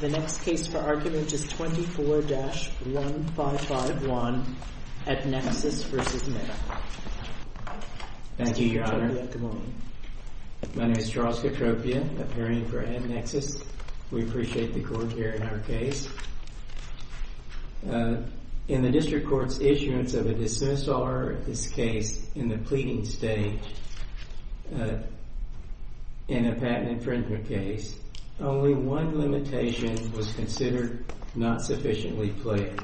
The next case for argument is 24-1551, Adnexus v. Meta. Thank you, Your Honor. My name is Charles Katropia, appearing for Adnexus. We appreciate the court hearing our case. In the district court's issuance of a dismissal order in this case in the pleading stage in a patent infringement case, only one limitation was considered not sufficiently clear.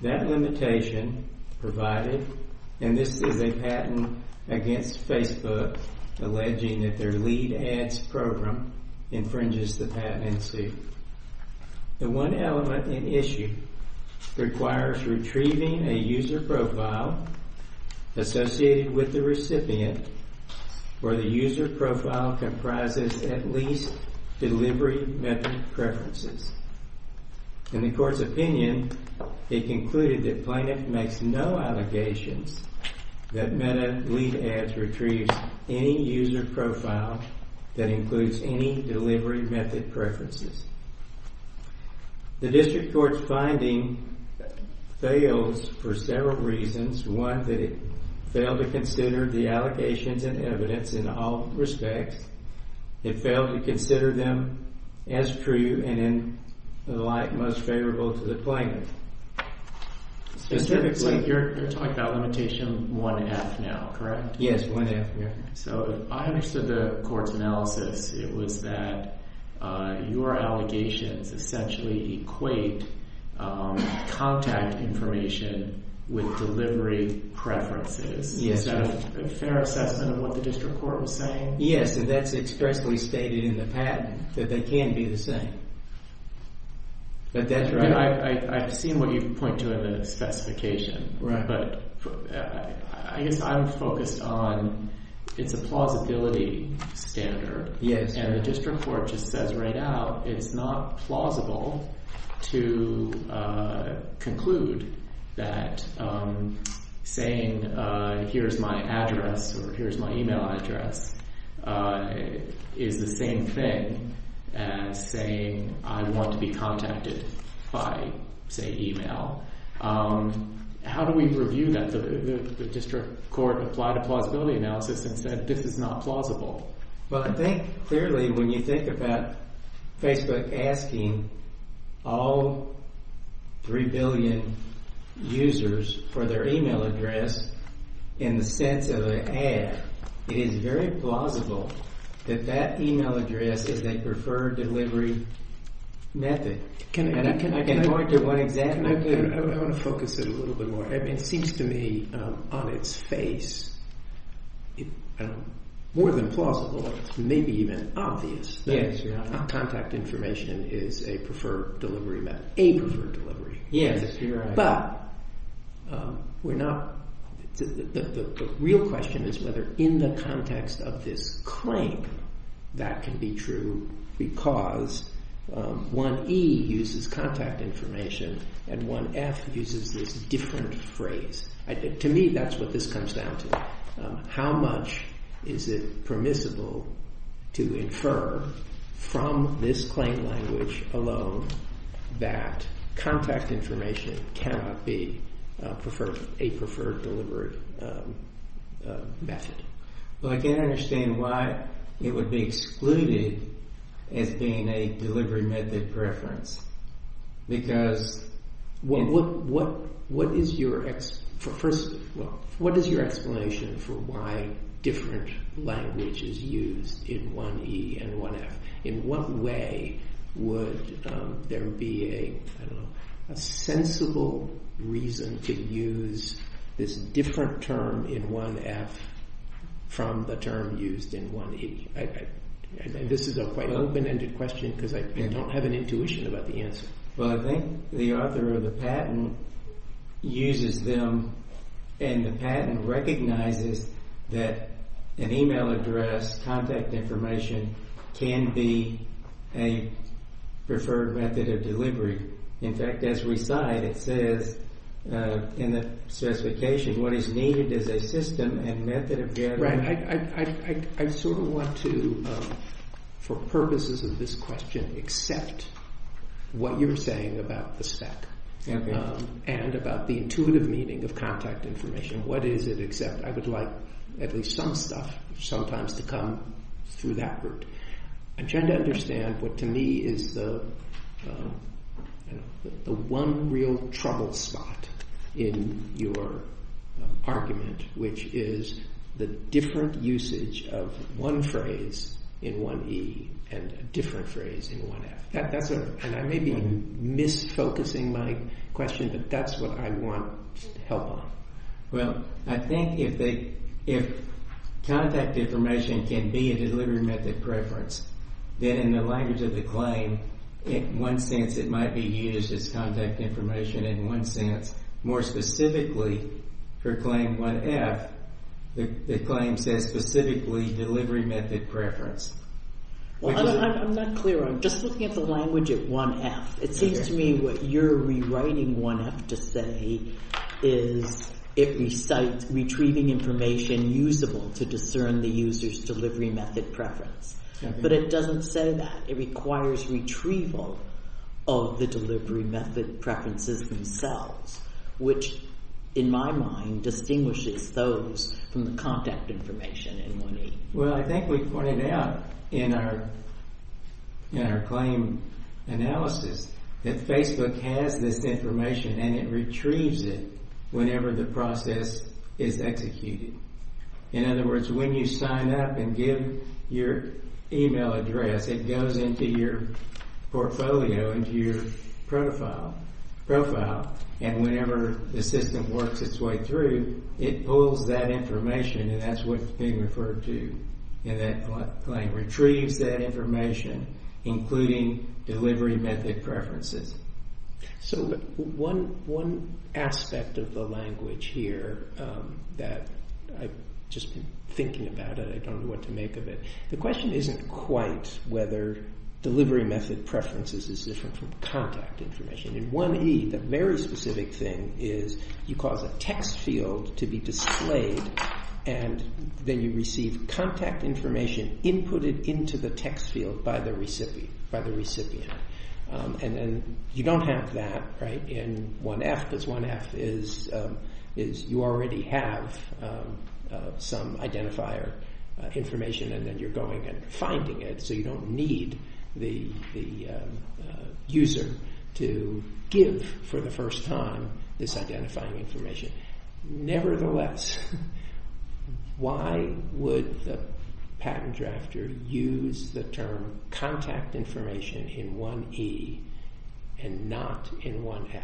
That limitation provided, and this is a patent against Facebook alleging that their lead ads program infringes the patent in suit. The one element in issue requires retrieving a user profile associated with the recipient where the user profile comprises at least delivery method preferences. In the court's opinion, it concluded that plaintiff makes no allegations that Meta lead ads retrieves any user profile that includes any delivery method preferences. The district court's finding fails for several reasons. One, that it failed to consider the allegations and evidence in all respects. It failed to consider them as true and in the light most favorable to the plaintiff. Specifically, you're talking about limitation 1F now, correct? Yes, 1F, yeah. So I understood the court's analysis. It was that your allegations essentially equate contact information with delivery preferences. Is that a fair assessment of what the district court was saying? Yes, and that's expressly stated in the patent, that they can be the same. But that's right. I've seen what you point to in the specification. But I guess I'm focused on, it's a plausibility standard. And the district court just says right out, it's not plausible to conclude that saying, here's my address, or here's my email address, is the same thing as saying, I want to be contacted by, say, email. How do we review that? The district court applied a plausibility analysis and said, this is not plausible. Well, I think, clearly, when you think about Facebook asking all 3 billion users for their email address in the sense of an ad, it is very plausible that that email address is a preferred delivery method. Can I point to one example? I want to focus it a little bit more. It seems to me, on its face, more than plausible, maybe even obvious, that contact information is a preferred delivery method, a preferred delivery method. Yes, you're right. But the real question is whether in the context of this claim that can be true because 1E uses contact information and 1F uses this different phrase. To me, that's what this comes down to. How much is it permissible to infer from this claim language alone that contact information cannot be a preferred delivery method? Well, I can't understand why it would be excluded as being a delivery method preference. Because what is your explanation for why different languages used in 1E and 1F? In what way would there be a sensible reason to use this different term in 1F from the term used in 1E? This is a quite open-ended question because I don't have an intuition about the answer. Well, I think the author of the patent uses them. And the patent recognizes that an email address, contact information, can be a preferred method of delivery. In fact, as we cite, it says in the specification, what is needed is a system and method of gathering. I sort of want to, for purposes of this question, accept what you're saying about the spec and about the intuitive meaning of contact information. What is it except I would like at least some stuff sometimes to come through that route. I'm trying to understand what, to me, is the one real trouble spot in your argument, which is the different usage of one phrase in 1E and a different phrase in 1F. And I may be mis-focusing my question, but that's what I want help on. Well, I think if contact information can be a delivery method preference, then in the language of the claim, in one sense, it might be used as contact information in one sense. More specifically, for claim 1F, the claim says specifically delivery method preference. Well, I'm not clear. I'm just looking at the language at 1F. It seems to me what you're rewriting 1F to say is it recites retrieving information and usable to discern the user's delivery method preference. But it doesn't say that. It requires retrieval of the delivery method preferences themselves, which, in my mind, distinguishes those from the contact information in 1E. Well, I think we pointed out in our claim analysis that Facebook has this information and it retrieves it whenever the process is executed. In other words, when you sign up and give your email address, it goes into your portfolio, into your profile. And whenever the system works its way through, it pulls that information, and that's what's being referred to in that claim. Retrieves that information, including delivery method preferences. So one aspect of the language here that I've just been thinking about it. I don't know what to make of it. The question isn't quite whether delivery method preferences is different from contact information. In 1E, the very specific thing is you cause a text field to be displayed, and then you receive contact information inputted into the text field by the recipient. And then you don't have that in 1F, because 1F is you already have some identifier information, and then you're going and finding it. So you don't need the user to give, for the first time, this identifying information. Nevertheless, why would the patent drafter use the term contact information in 1E and not in 1F?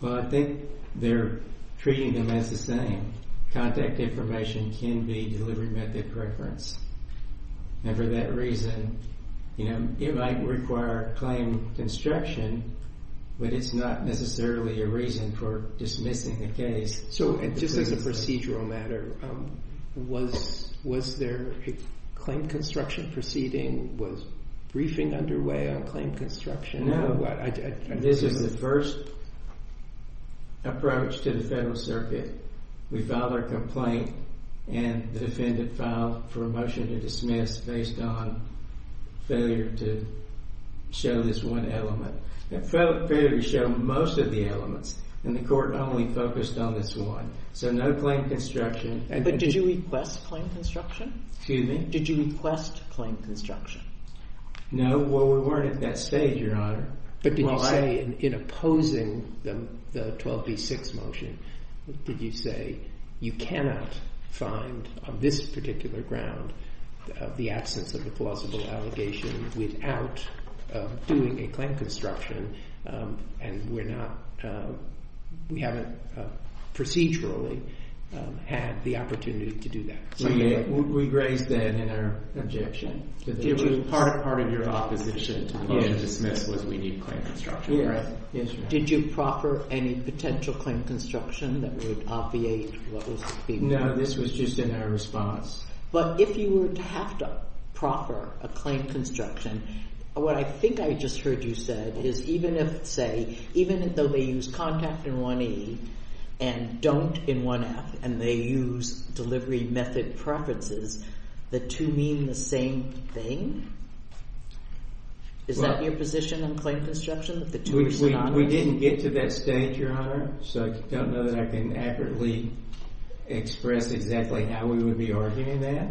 Well, I think they're treating them as the same. Contact information can be delivery method preference. And for that reason, it might require claim construction, but it's not necessarily a reason for dismissing the case. So just as a procedural matter, was their claim construction proceeding was briefing underway on claim construction? This is the first approach to the Federal Circuit. We file our complaint, and the defendant filed for a motion to dismiss based on failure to show this one element. They failed to show most of the elements, and the court only focused on this one. So no claim construction. But did you request claim construction? Excuse me? Did you request claim construction? No, well, we weren't at that stage, Your Honor. But did you say, in opposing the 12B6 motion, did you say, you cannot find, on this particular ground, the absence of a plausible allegation without doing a claim construction, and we haven't procedurally had the opportunity to do that? We raised that in our objection. It was part of your opposition to dismiss was we need claim construction. Did you proffer any potential claim construction that would obviate what was being proposed? No, this was just in our response. But if you were to have to proffer a claim construction, what I think I just heard you said is even if, say, even though they use contact in 1E and don't in 1F, and they use delivery method preferences, the two mean the same thing? Is that your position on claim construction, that the two are synonymous? We didn't get to that stage, Your Honor. So I don't know that I can accurately express exactly how we would be arguing that.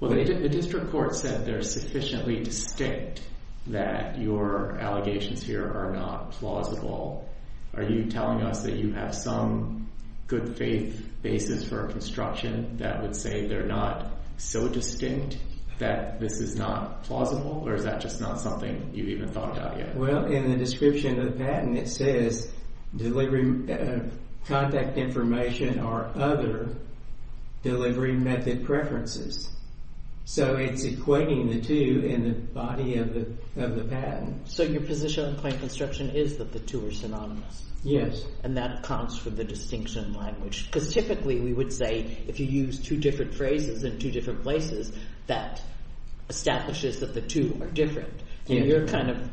Well, the district court said they're sufficiently distinct that your allegations here are not plausible. Are you telling us that you have some good faith basis for construction that would say they're not so distinct that this is not plausible, or is that just not something you've even thought about yet? Well, in the description of the patent, it says contact information or other delivery method preferences. So it's equating the two in the body of the patent. So your position on claim construction is that the two are synonymous? Yes. And that accounts for the distinction in language? Because typically we would say, if you use two different phrases in two different places, that establishes that the two are different. And you're kind of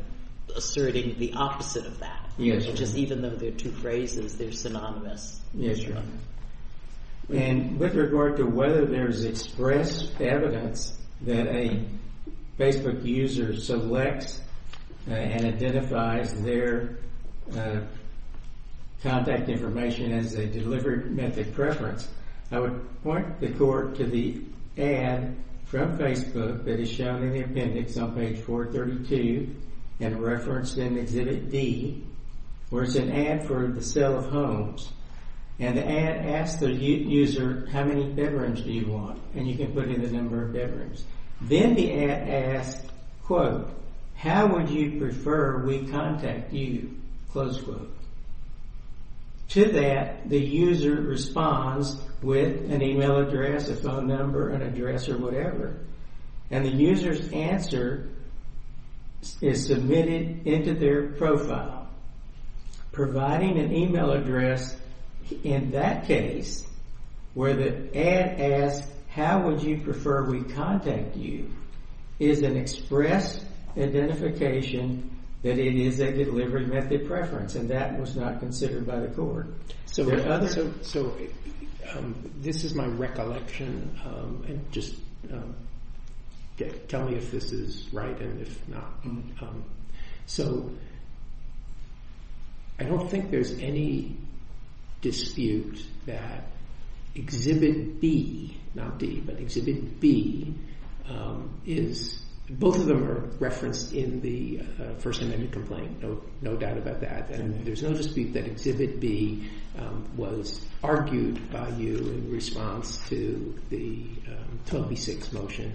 asserting the opposite of that, which is even though they're two phrases, they're synonymous. Yes, Your Honor. And with regard to whether there's expressed evidence that a Facebook user selects and identifies their contact information as a delivery method preference, I would point the court to the ad from Facebook that is shown in the appendix on page 432 and referenced in Exhibit D, where it's an ad for the sale of homes. And the ad asks the user, how many bedrooms do you want? And you can put in the number of bedrooms. Then the ad asks, quote, how would you prefer we contact you? Close quote. To that, the user responds with an email address, a phone number, an address, or whatever. And the user's answer is submitted into their profile. Providing an email address in that case, where the ad asks, how would you prefer we contact you, is an expressed identification that it is a delivery method preference, and that was not considered by the court. So, this is my recollection, and just tell me if this is right and if not. So, I don't think there's any dispute that Exhibit B, not D, but Exhibit B, is, both of them are referenced in the First Amendment complaint, no doubt about that. And there's no dispute that Exhibit B was argued by you in response to the 12B6 motion.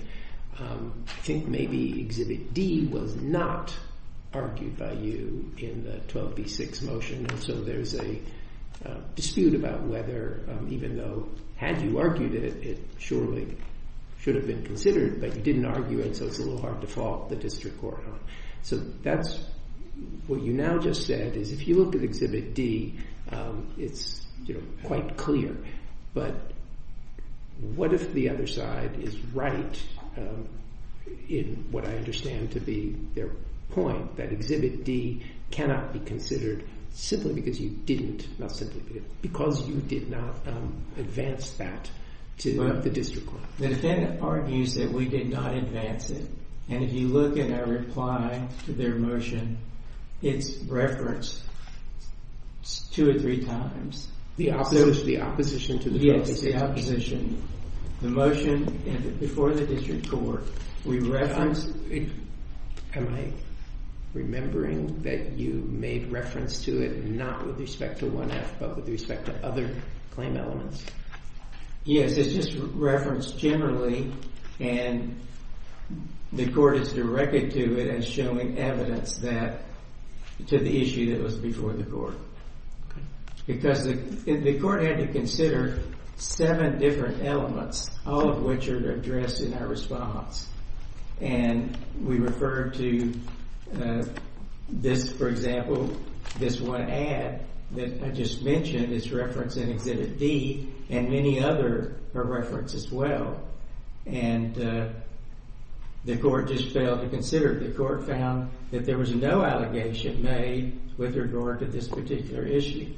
I think maybe Exhibit D was not argued by you in the 12B6 motion, and so there's a dispute about whether, even though, had you argued it, it surely should have been considered, but you didn't argue it, so it's a little hard to fault the district court on. So, that's what you now just said, is if you look at Exhibit D, it's quite clear. But, what if the other side is right in what I understand to be their point, that Exhibit D cannot be considered simply because you didn't, not simply, because you did not advance that to the district court? The defendant argues that we did not advance it, and if you look at our reply to their motion, it's referenced two or three times. The opposition to the 12B6 motion. Yes, the opposition. The motion, and before the district court, we referenced, am I remembering that you made reference to it, not with respect to 1F, but with respect to other claim elements? Yes, it's just referenced generally, and the court is directed to it as showing evidence that, to the issue that was before the court. Because the court had to consider seven different elements, all of which are addressed in our response. And, we referred to this, for example, this one ad that I just mentioned is referenced in Exhibit D, and many other are referenced as well. And, the court just failed to consider it. The court found that there was no allegation made with regard to this particular issue,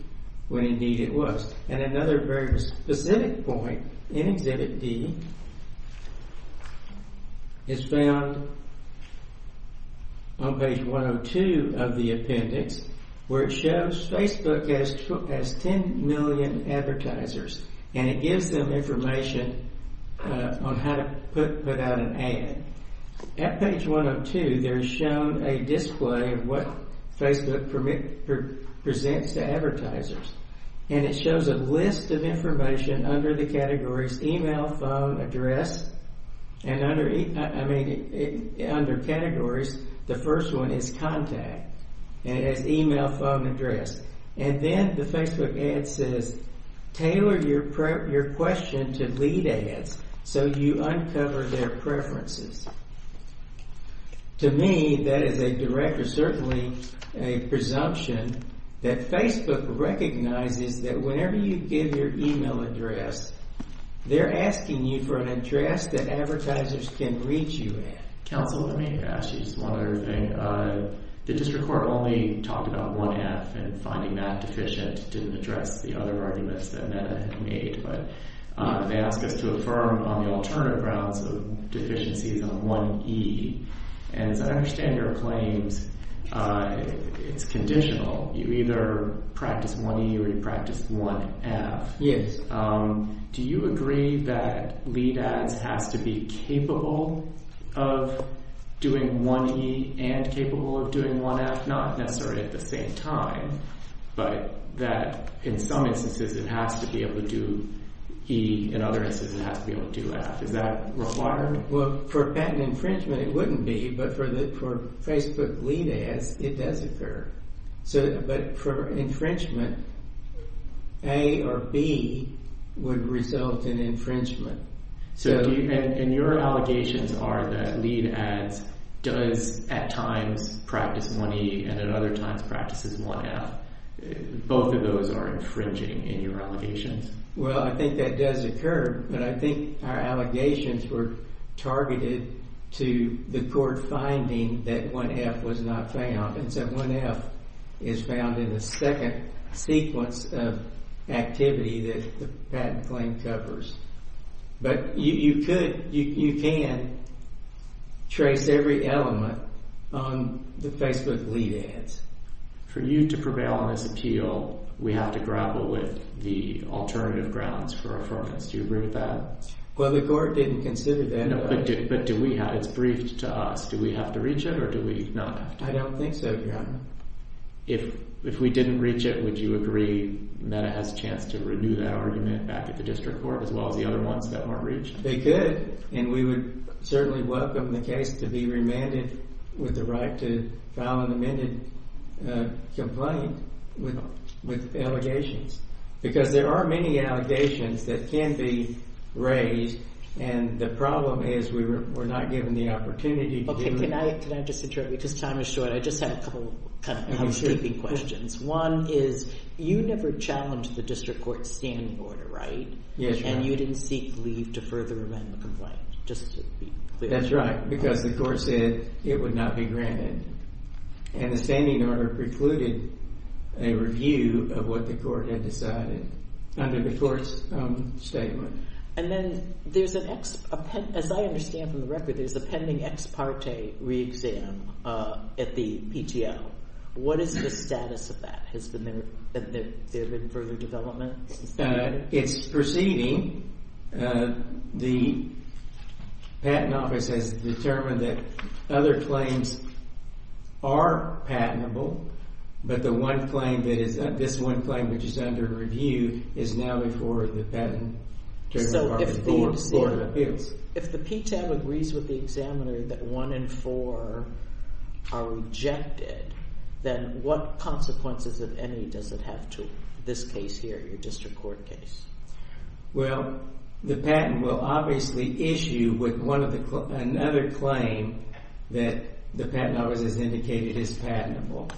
when indeed it was. And, another very specific point in Exhibit D is found on page 102 of the appendix, where it shows Facebook has 10 million advertisers, and it gives them information on how to put out an ad. At page 102, there's shown a display of what Facebook presents to advertisers. And, it shows a list of information under the categories, email, phone, address. And, under categories, the first one is contact, and it has email, phone, address. And then, the Facebook ad says, tailor your question to lead ads, so you uncover their preferences. To me, that is a direct, or certainly a presumption, that Facebook recognizes that whenever you give your email address, they're asking you for an address that advertisers can reach you at. Counsel, let me ask you just one other thing. The district court only talked about 1F, and finding that deficient didn't address the other arguments that NEDA had made. But, they asked us to affirm on the alternative grounds of deficiencies on 1E. And, as I understand your claims, it's conditional. You either practice 1E, or you practice 1F. Yes. Do you agree that lead ads has to be capable of doing 1E, and capable of doing 1F, not necessarily at the same time, but that, in some instances, it has to be able to do E, in other instances, it has to be able to do F. Is that required? Well, for patent infringement, it wouldn't be, but for Facebook lead ads, it does occur. But, for infringement, A or B would result in infringement. And, your allegations are that lead ads does, at times, practice 1E, and at other times, practices 1F. Both of those are infringing in your allegations. Well, I think that does occur, but I think our allegations were targeted to the court finding that 1F was not found. And so, 1F is found in the second sequence of activity that the patent claim covers. But, you could, you can trace every element on the Facebook lead ads. For you to prevail on this appeal, we have to grapple with the alternative grounds for affirmance. Do you agree with that? Well, the court didn't consider that. But, do we have, it's briefed to us. Do we have to reach it, or do we not have to? I don't think so, Your Honor. If we didn't reach it, would you agree that it has a chance to renew that argument back at the district court, as well as the other ones that weren't reached? They could, and we would certainly welcome the case to be remanded with the right to file an amended complaint with allegations, because there are many allegations that can be raised, and the problem is we're not given the opportunity to do that. Okay, can I just interrupt you, because time is short. I just had a couple housekeeping questions. One is, you never challenged the district court's standing order, right? Yes, Your Honor. And you didn't seek leave to further amend the complaint, just to be clear. That's right, because the court said it would not be granted. And the standing order precluded a review of what the court had decided. Under the court's statement. And then, there's an, as I understand from the record, there's a pending ex parte re-exam at the PTO. What is the status of that? Has there been further development since then? It's proceeding, the patent office has determined that other claims are patentable, but the one claim that is, this one claim which is under review, is now before the patent Trigger Department for appeals. If the PTO agrees with the examiner that one in four are rejected, then what consequences, if any, does it have to this case here, your district court case? Well, the patent will obviously issue with another claim that the patent office has indicated is patentable.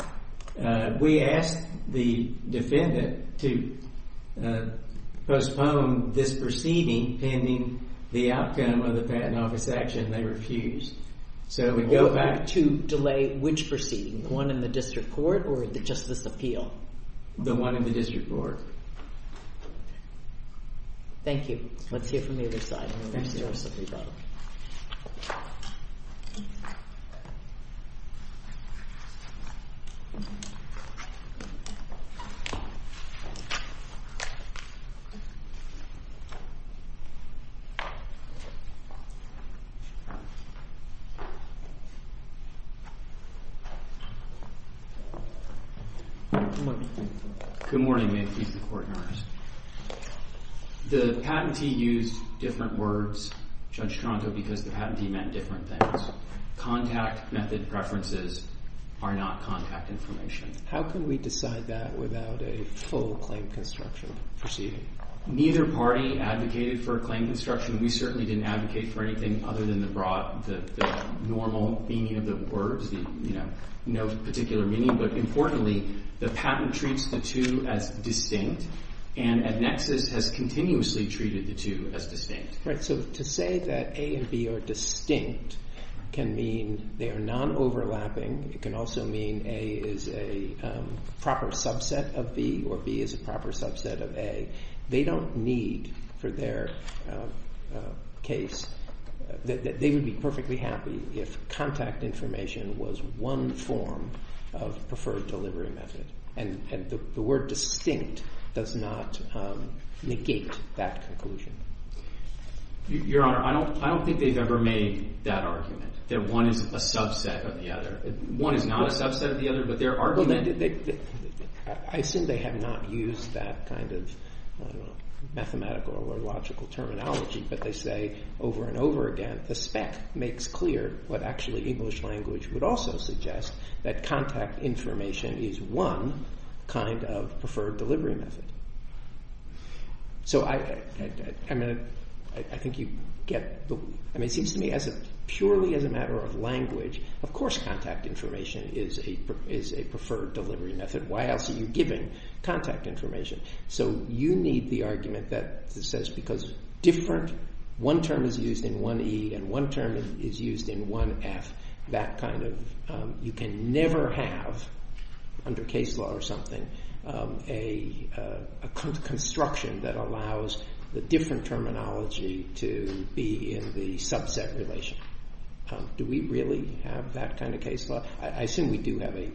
We asked the defendant to postpone this proceeding pending the outcome of the patent office action, they refused. So we go back to delay which proceeding? The one in the district court, or the justice appeal? The one in the district court. Thank you. Let's hear from the other side. Thank you. Good morning, may it please the court, Your Honor. The patentee used different words, Judge Tronco, because the patentee meant different things. Contact method preferences are not contact information. How can we decide that without a full claim construction proceeding? Neither party advocated for a claim construction. We certainly didn't advocate for anything other than the broad, the normal meaning of the words. No particular meaning, but importantly, the patent treats the two as distinct, and EdNexus has continuously treated the two as distinct. Right, so to say that A and B are distinct can mean they are non-overlapping. It can also mean A is a proper subset of B, or B is a proper subset of A. They don't need, for their case, that they would be perfectly happy if contact information was one form of preferred delivery method. And the word distinct does not negate that conclusion. Your Honor, I don't think they've ever made that argument, that one is a subset of the other. One is not a subset of the other, but their argument is. I assume they have not used that kind of mathematical or logical terminology, but they say over and over again, the spec makes clear what actually English language would also suggest, that contact information is one kind of preferred delivery method. So I think you get the, I mean, it seems to me as a, purely as a matter of language, of course contact information is a preferred delivery method. Why else are you giving contact information? So you need the argument that says, because different, one term is used in 1E, and one term is used in 1F, that kind of, you can never have, under case law or something, a construction that allows the different terminology to be in the subset relation. Do we really have that kind of case law? I assume we do have a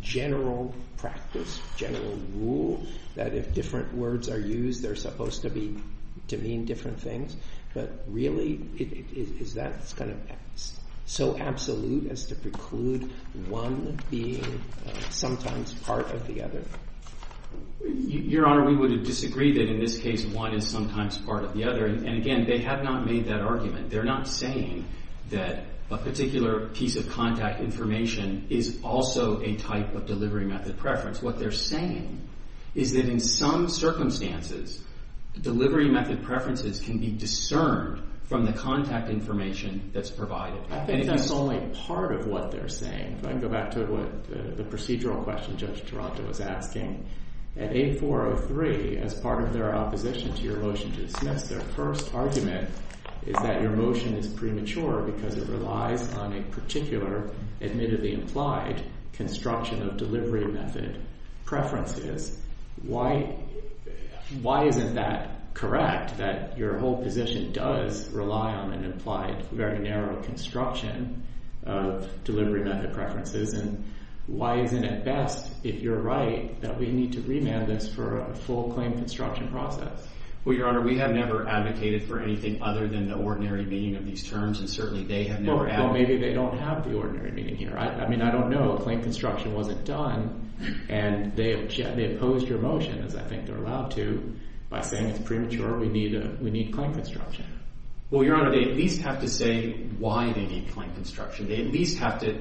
general practice, general rule, that if different words are used, they're supposed to mean different things. But really, is that kind of so absolute as to preclude one being sometimes part of the other? Your Honor, we would disagree that in this case, one is sometimes part of the other. And again, they have not made that argument. They're not saying that a particular piece of contact information is also a type of delivery method preference. What they're saying is that in some circumstances, delivery method preferences can be discerned from the contact information that's provided. I think that's only part of what they're saying. If I can go back to the procedural question Judge Taranto was asking, at 8403, as part of their opposition to your motion to dismiss, their first argument is that your motion is premature because it relies on a particular, admittedly implied, construction of delivery method preferences. Why isn't that correct, that your whole position does rely on an implied, very narrow construction of delivery method preferences? And why isn't it best, if you're right, that we need to remand this for a full claim construction process? Well, Your Honor, we have never advocated for anything other than the ordinary meaning of these terms, and certainly they have never advocated. Well, maybe they don't have the ordinary meaning here. I mean, I don't know. Claim construction wasn't done, and they opposed your motion, as I think they're allowed to, by saying it's premature, we need claim construction. Well, Your Honor, they at least have to say why they need claim construction. They at least have to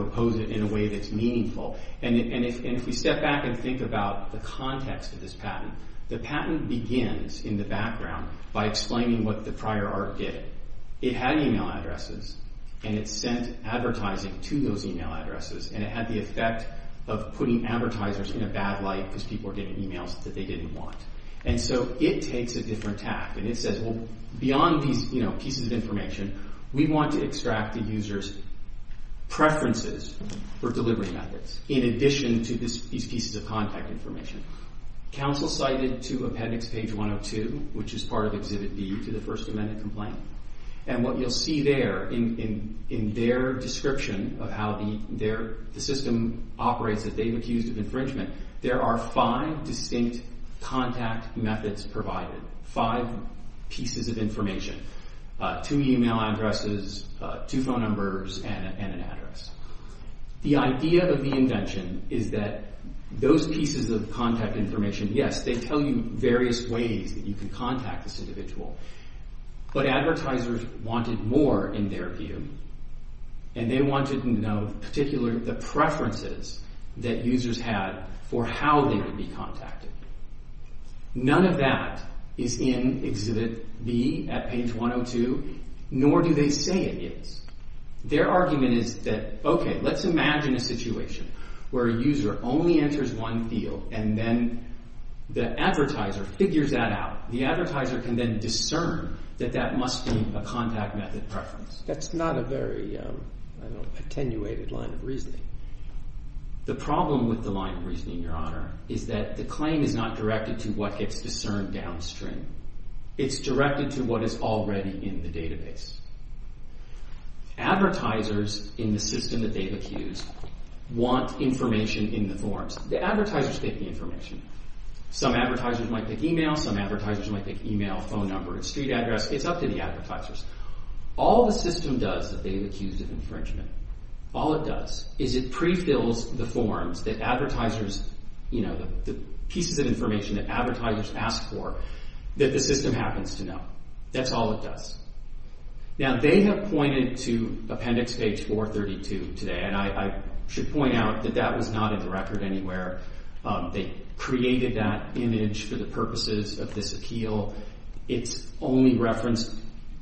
oppose it in a way that's meaningful. And if we step back and think about the context of this patent, the patent begins in the background by explaining what the prior art did. It had email addresses, and it sent advertising to those email addresses, and it had the effect of putting advertisers in a bad light because people were getting emails that they didn't want. And so it takes a different tack, and it says, well, beyond these pieces of information, we want to extract the user's preferences for delivery methods in addition to these pieces of contact information. Counsel cited to Appendix Page 102, which is part of Exhibit B to the First Amendment complaint, and what you'll see there in their description of how the system operates that they've accused of infringement, there are five distinct contact methods provided, five pieces of information, two email addresses, two phone numbers, and an address. The idea of the invention is that those pieces of contact information, yes, they tell you various ways that you can contact this individual, but advertisers wanted more in their view, and they wanted to know, in particular, the preferences that users had for how they would be contacted. None of that is in Exhibit B at Page 102, nor do they say it is. Their argument is that, okay, let's imagine a situation where a user only enters one field, and then the advertiser figures that out. The advertiser can then discern that that must be a contact method preference. That's not a very attenuated line of reasoning. The problem with the line of reasoning, Your Honor, is that the claim is not directed to what gets discerned downstream. It's directed to what is already in the database. Advertisers in the system that they've accused want information in the forms. The advertisers take the information. Some advertisers might pick email, some advertisers might pick email, phone number, and street address. It's up to the advertisers. All the system does that they've accused of infringement, all it does is it pre-fills the forms that advertisers, you know, the pieces of information that advertisers ask for, that the system happens to know. That's all it does. Now, they have pointed to Appendix Page 432 today, and I should point out that that was not in the record anywhere. They created that image for the purposes of this appeal. It's only referenced,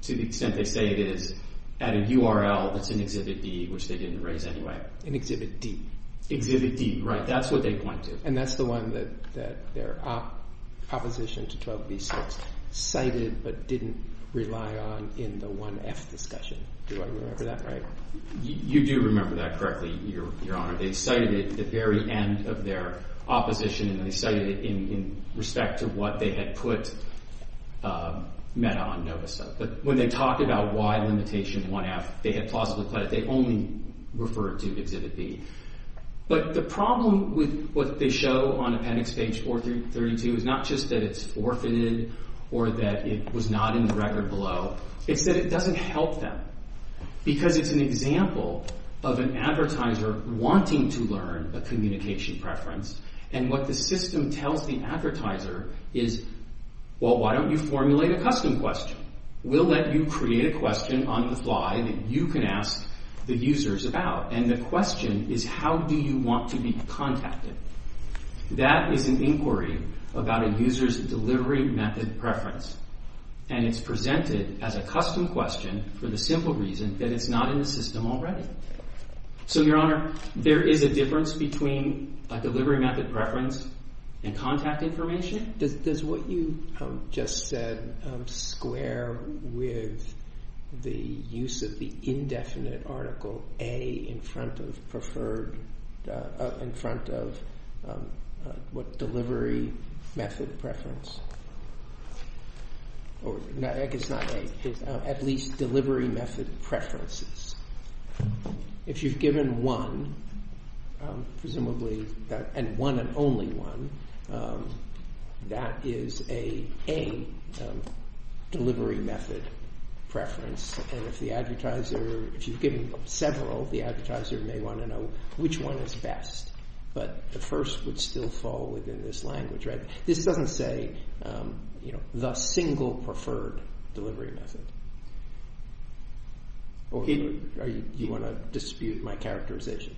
to the extent they say it is, at a URL that's in Exhibit D, which they didn't erase anyway. In Exhibit D? Exhibit D, right. That's what they point to. And that's the one that their opposition to 12B6 cited, but didn't rely on in the 1F discussion. Do I remember that right? You do remember that correctly, Your Honor. They cited it at the very end of their opposition, and they cited it in respect to what they had put meta on NOVASET. But when they talk about why limitation 1F, they had plausibly put it. They only referred to Exhibit D. But the problem with what they show on Appendix Page 432 is not just that it's orphaned, or that it was not in the record below. It's that it doesn't help them, because it's an example of an advertiser wanting to learn a communication preference, and what the system tells the advertiser is, well, why don't you formulate a custom question? We'll let you create a question on the fly that you can ask the users about. And the question is, how do you want to be contacted? That is an inquiry about a user's delivery method preference. And it's presented as a custom question for the simple reason that it's not in the system already. So, Your Honor, there is a difference between a delivery method preference and contact information? Does what you just said square with the use of the indefinite article A in front of preferred, in front of what delivery method preference? Or, I guess not A. At least delivery method preferences. If you've given one, presumably, and one and only one, that is an A delivery method preference. And if the advertiser, if you've given several, the advertiser may want to know which one is best. But the first would still fall within this language, right? This doesn't say the single preferred delivery method. Okay, do you want to dispute my characterization?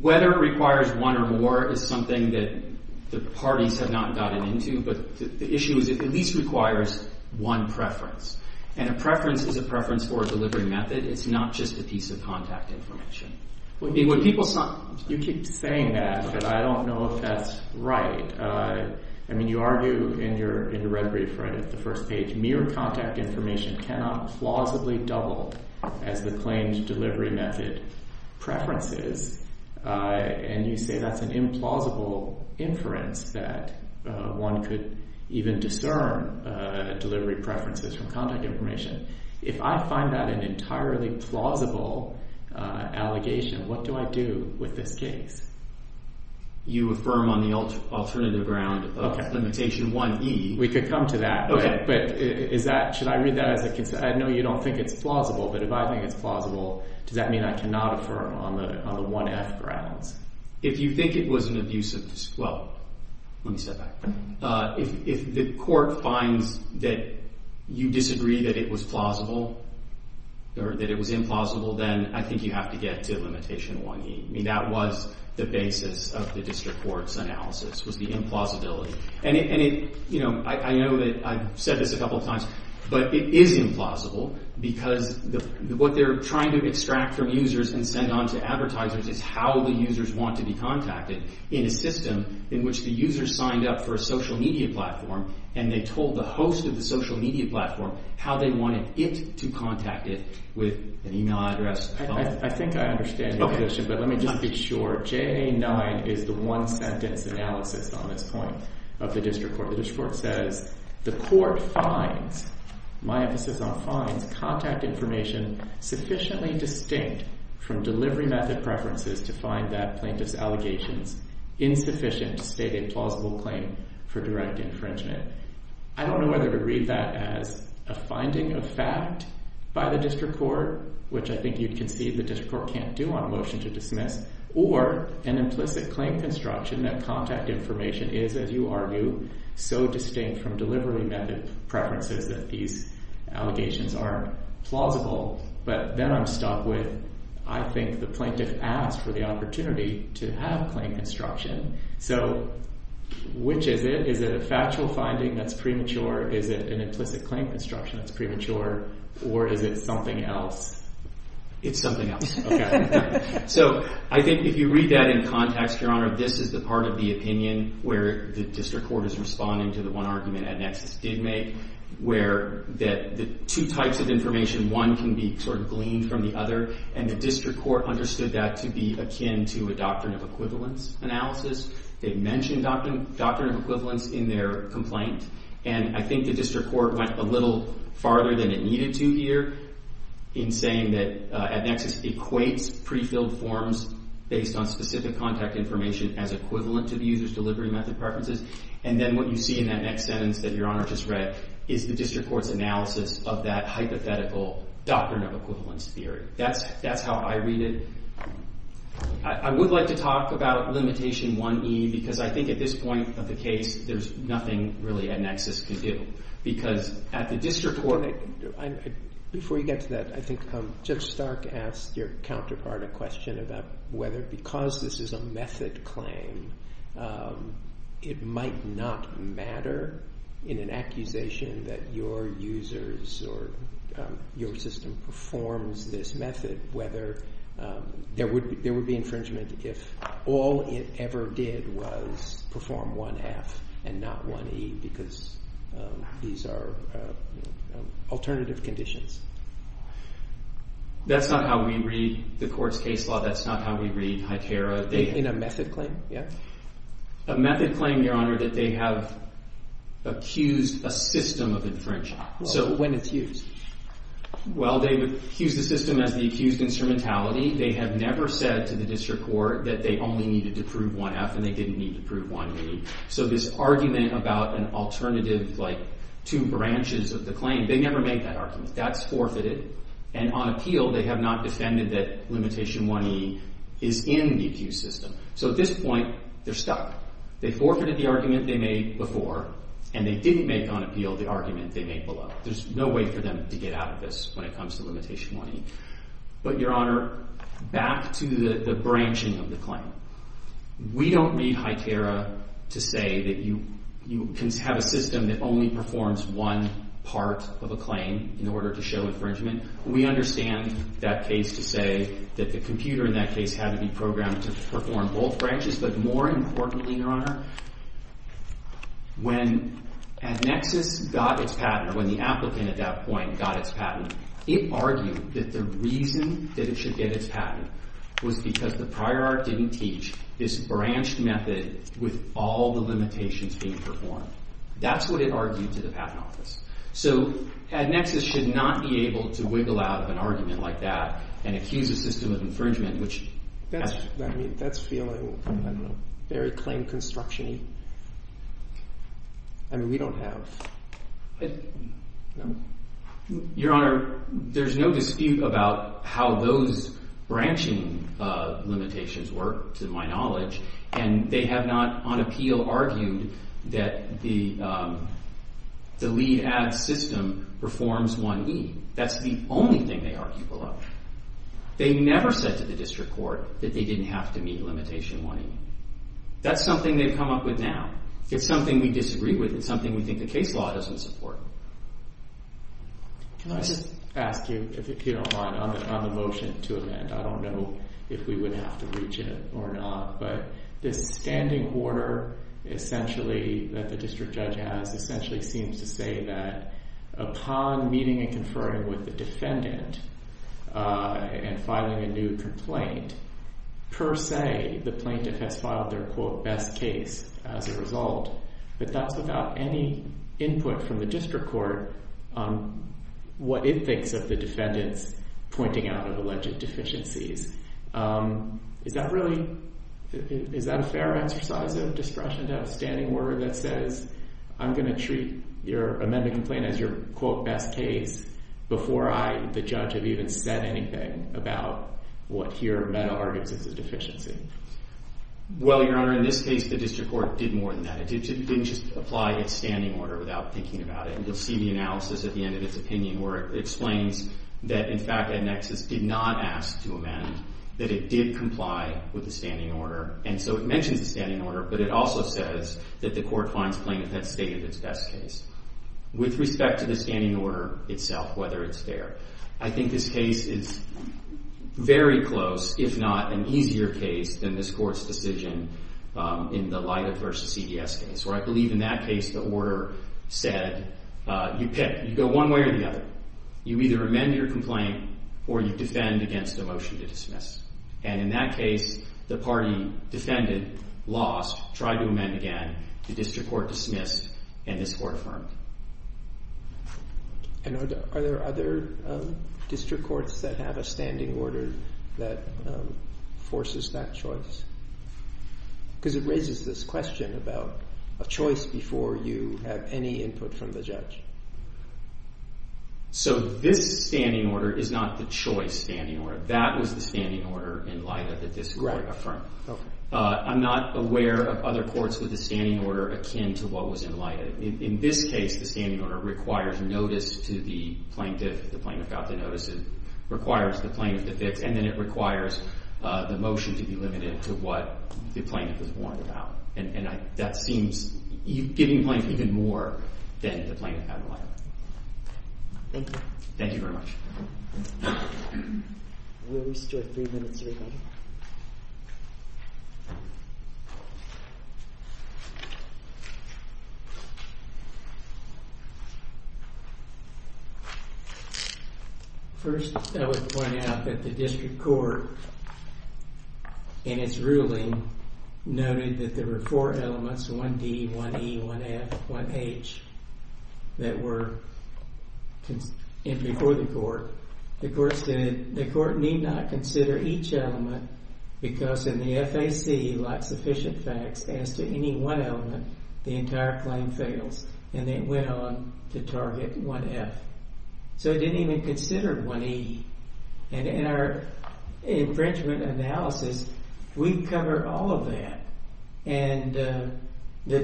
Whether it requires one or more is something that the parties have not gotten into, but the issue is it at least requires one preference. And a preference is a preference for a delivery method. It's not just a piece of contact information. When people saw... You keep saying that, but I don't know if that's right. I mean, you argue in your red brief right at the first page, mere contact information cannot plausibly double as the claimed delivery method preferences. And you say that's an implausible inference that one could even discern delivery preferences from contact information. If I find that an entirely plausible allegation, what do I do with this case? You affirm on the alternative ground of limitation 1E. We could come to that. But should I read that as a... No, you don't think it's plausible, but if I think it's plausible, does that mean I cannot affirm on the 1F grounds? If you think it was an abusive... Well, let me step back. If the court finds that you disagree that it was plausible or that it was implausible, then I think you have to get to limitation 1E. I mean, that was the basis of the district court's analysis was the implausibility. And I know that I've said this a couple of times, but it is implausible because what they're trying to extract from users and send on to advertisers is how the users want to be contacted in a system in which the user signed up for a social media platform and they told the host of the social media platform how they wanted it to contact it with an email address. I think I understand your question, but let me just be sure. JA-9 is the one sentence analysis on this point of the district court. The district court says, the court finds, my emphasis on finds, contact information sufficiently distinct from delivery method preferences to find that plaintiff's allegations insufficient to state a plausible claim for direct infringement. I don't know whether to read that as a finding of fact by the district court, which I think you'd concede the district court can't do on motion to dismiss, or an implicit claim construction that contact information is, as you argue, so distinct from delivery method preferences that these allegations are plausible. But then I'm stuck with, I think the plaintiff asked for the opportunity to have claim construction. So which is it? Is it a factual finding that's premature? Is it an implicit claim construction that's premature? Or is it something else? It's something else. Okay. So I think if you read that in context, Your Honor, this is the part of the opinion where the district court is responding to the one argument EdNexus did make, where the two types of information, one can be sort of gleaned from the other, and the district court understood that to be akin to a doctrine of equivalence analysis. They mentioned doctrine of equivalence in their complaint, and I think the district court went a little farther than it needed to here in saying that EdNexus equates pre-filled forms based on specific contact information as equivalent to the user's delivery method preferences. And then what you see in that next sentence that Your Honor just read, is the district court's analysis of that hypothetical doctrine of equivalence theory. That's how I read it. I would like to talk about limitation 1E, because I think at this point of the case, there's nothing really EdNexus can do. Because at the district court... Before you get to that, I think Judge Stark asked your counterpart a question about whether because this is a method claim, it might not matter in an accusation that your users or your system performs this method, whether there would be infringement if all it ever did was perform 1F and not 1E, because these are alternative conditions. That's not how we read the court's case law. That's not how we read HITERA. In a method claim, yeah? A method claim, Your Honor, that they have accused a system of infringement. So when it's used? Well, they've accused the system as the accused instrumentality. They have never said to the district court that they only needed to prove 1F and they didn't need to prove 1E. So this argument about an alternative, like two branches of the claim, they never make that argument. That's forfeited. And on appeal, they have not defended that limitation 1E is in the accused system. So at this point, they're stuck. They forfeited the argument they made before and they didn't make on appeal the argument they made below. There's no way for them to get out of this when it comes to limitation 1E. But Your Honor, back to the branching of the claim. We don't need HITERA to say that you can have a system that only performs one part of a claim in order to show infringement. We understand that case to say that the computer in that case had to be programmed to perform both branches. But more importantly, Your Honor, when AdNexus got its patent, or when the applicant at that point got its patent, it argued that the reason that it should get its patent was because the prior art didn't teach this branched method with all the limitations being performed. That's what it argued to the patent office. So AdNexus should not be able to wiggle out of an argument like that and accuse a system of infringement, which- That's, I mean, that's feeling, I don't know, very claim construction-y. I mean, we don't have, no? Your Honor, there's no dispute about how those branching limitations work, to my knowledge, and they have not, on appeal, argued that the LEAD-AD system performs 1E. That's the only thing they argued below. They never said to the district court that they didn't have to meet limitation 1E. That's something they've come up with now. It's something we disagree with. It's something we think the case law doesn't support. Can I just ask you, if you don't mind, on the motion to amend? I don't know if we would have to reach it or not, but this standing order, essentially, that the district judge has, essentially seems to say that upon meeting and conferring with the defendant and filing a new complaint, per se, the plaintiff has filed their, quote, best case as a result, but that's without any input from the district court. What it thinks of the defendant's pointing out of alleged deficiencies. Is that really, is that a fair exercise of discretion to have a standing order that says, I'm gonna treat your amendment complaint as your, quote, best case, before I, the judge, have even said anything about what here, meta, argues as a deficiency? Well, your honor, in this case, the district court did more than that. It didn't just apply its standing order without thinking about it. You'll see the analysis at the end of its opinion where it explains that, in fact, EdNexus did not ask to amend, that it did comply with the standing order, and so it mentions the standing order, but it also says that the court finds plaintiff had stated its best case. With respect to the standing order itself, whether it's fair, I think this case is very close, if not an easier case than this court's decision in the Lida versus CDS case, where I believe in that case the order said, you pick, you go one way or the other. You either amend your complaint or you defend against a motion to dismiss, and in that case, the party defended, lost, tried to amend again, the district court dismissed, and this court affirmed. And are there other district courts that have a standing order that forces that choice? Because it raises this question about a choice before you have any input from the judge. So this standing order is not the choice standing order. That was the standing order in Lida that this court affirmed. I'm not aware of other courts with a standing order akin to what was in Lida. In this case, the standing order requires notice to the plaintiff, the plaintiff got the notice, it requires the plaintiff to fix, and then it requires the motion to be limited to what the plaintiff was warned about. And that seems, you're giving the plaintiff even more than the plaintiff had in mind. Thank you. Thank you very much. We'll restore three minutes, everybody. First, I would point out that the district court in its ruling noted that there were four elements, one D, one E, one F, one H, that were before the court. The court said the court need not consider each element because in the FAC, like sufficient facts, as to any one element, the entire claim fails. And then it went on to target one F. So it didn't even consider one E. And in our infringement analysis, we cover all of that. And the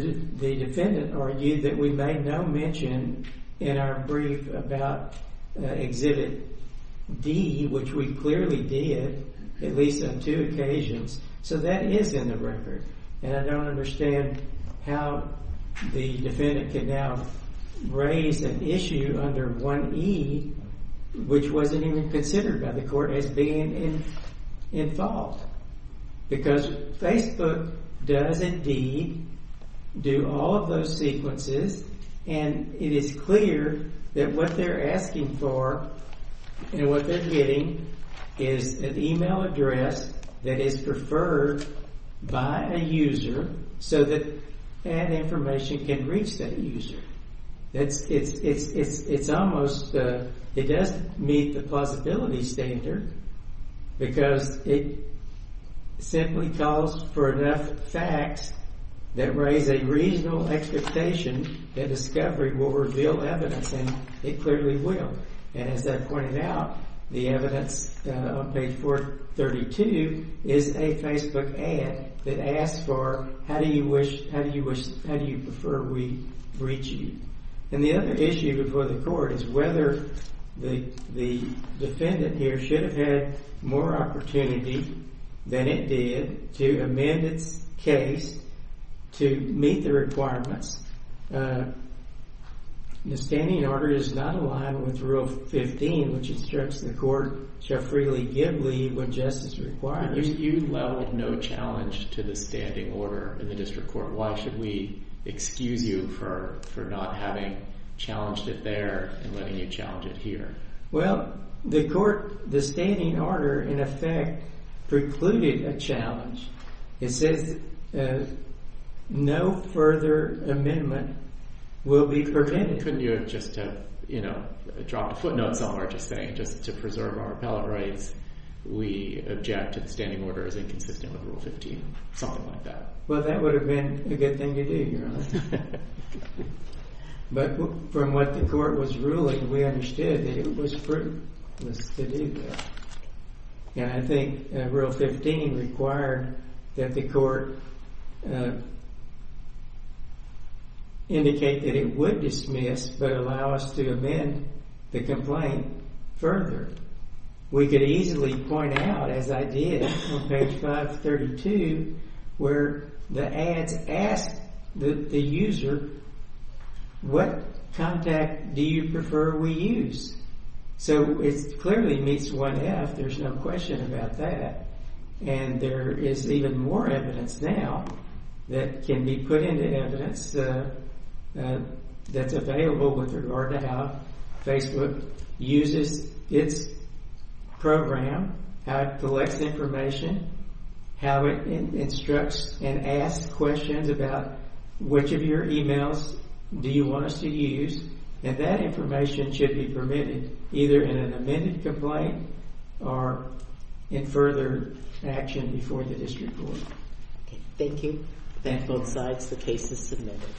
defendant argued that we made no mention in our brief about Exhibit D, which we clearly did, at least on two occasions. So that is in the record. And I don't understand how the defendant can now raise an issue under one E, which wasn't even considered by the court as being in fault. Because Facebook does indeed do all of those sequences. And it is clear that what they're asking for and what they're getting is an email address that is preferred by a user so that that information can reach that user. It's almost, it doesn't meet the plausibility standard because it simply calls for enough facts that raise a reasonable expectation that discovery will reveal evidence, and it clearly will. And as I pointed out, the evidence on page 432 is a Facebook ad that asks for, how do you wish, how do you prefer we reach you? And the other issue before the court is whether the defendant here should have had more opportunity than it did to amend its case to meet the requirements. The standing order is not aligned with Rule 15, which instructs the court shall freely give leave when justice requires. You leveled no challenge to the standing order in the district court. Why should we excuse you for not having challenged it there and letting you challenge it here? Well, the court, the standing order, in effect, precluded a challenge. It says no further amendment will be prevented. Couldn't you have just dropped a footnote somewhere just saying, just to preserve our appellate rights, we object to the standing order as inconsistent with Rule 15, something like that? Well, that would have been a good thing to do, Your Honor. But from what the court was ruling, we understood that it was fruitless to do that. And I think Rule 15 required that the court indicate that it would dismiss, but allow us to amend the complaint further. We could easily point out, as I did on page 532, where the ads ask the user, what contact do you prefer we use? So it clearly meets 1F, there's no question about that. And there is even more evidence now that can be put into evidence that's available with regard to how Facebook uses its program, how it collects information, how it instructs and asks questions about which of your emails do you want us to use. And that information should be permitted either in an amended complaint or in further action before the district court. Thank you. Thank you. Both sides, the case is submitted.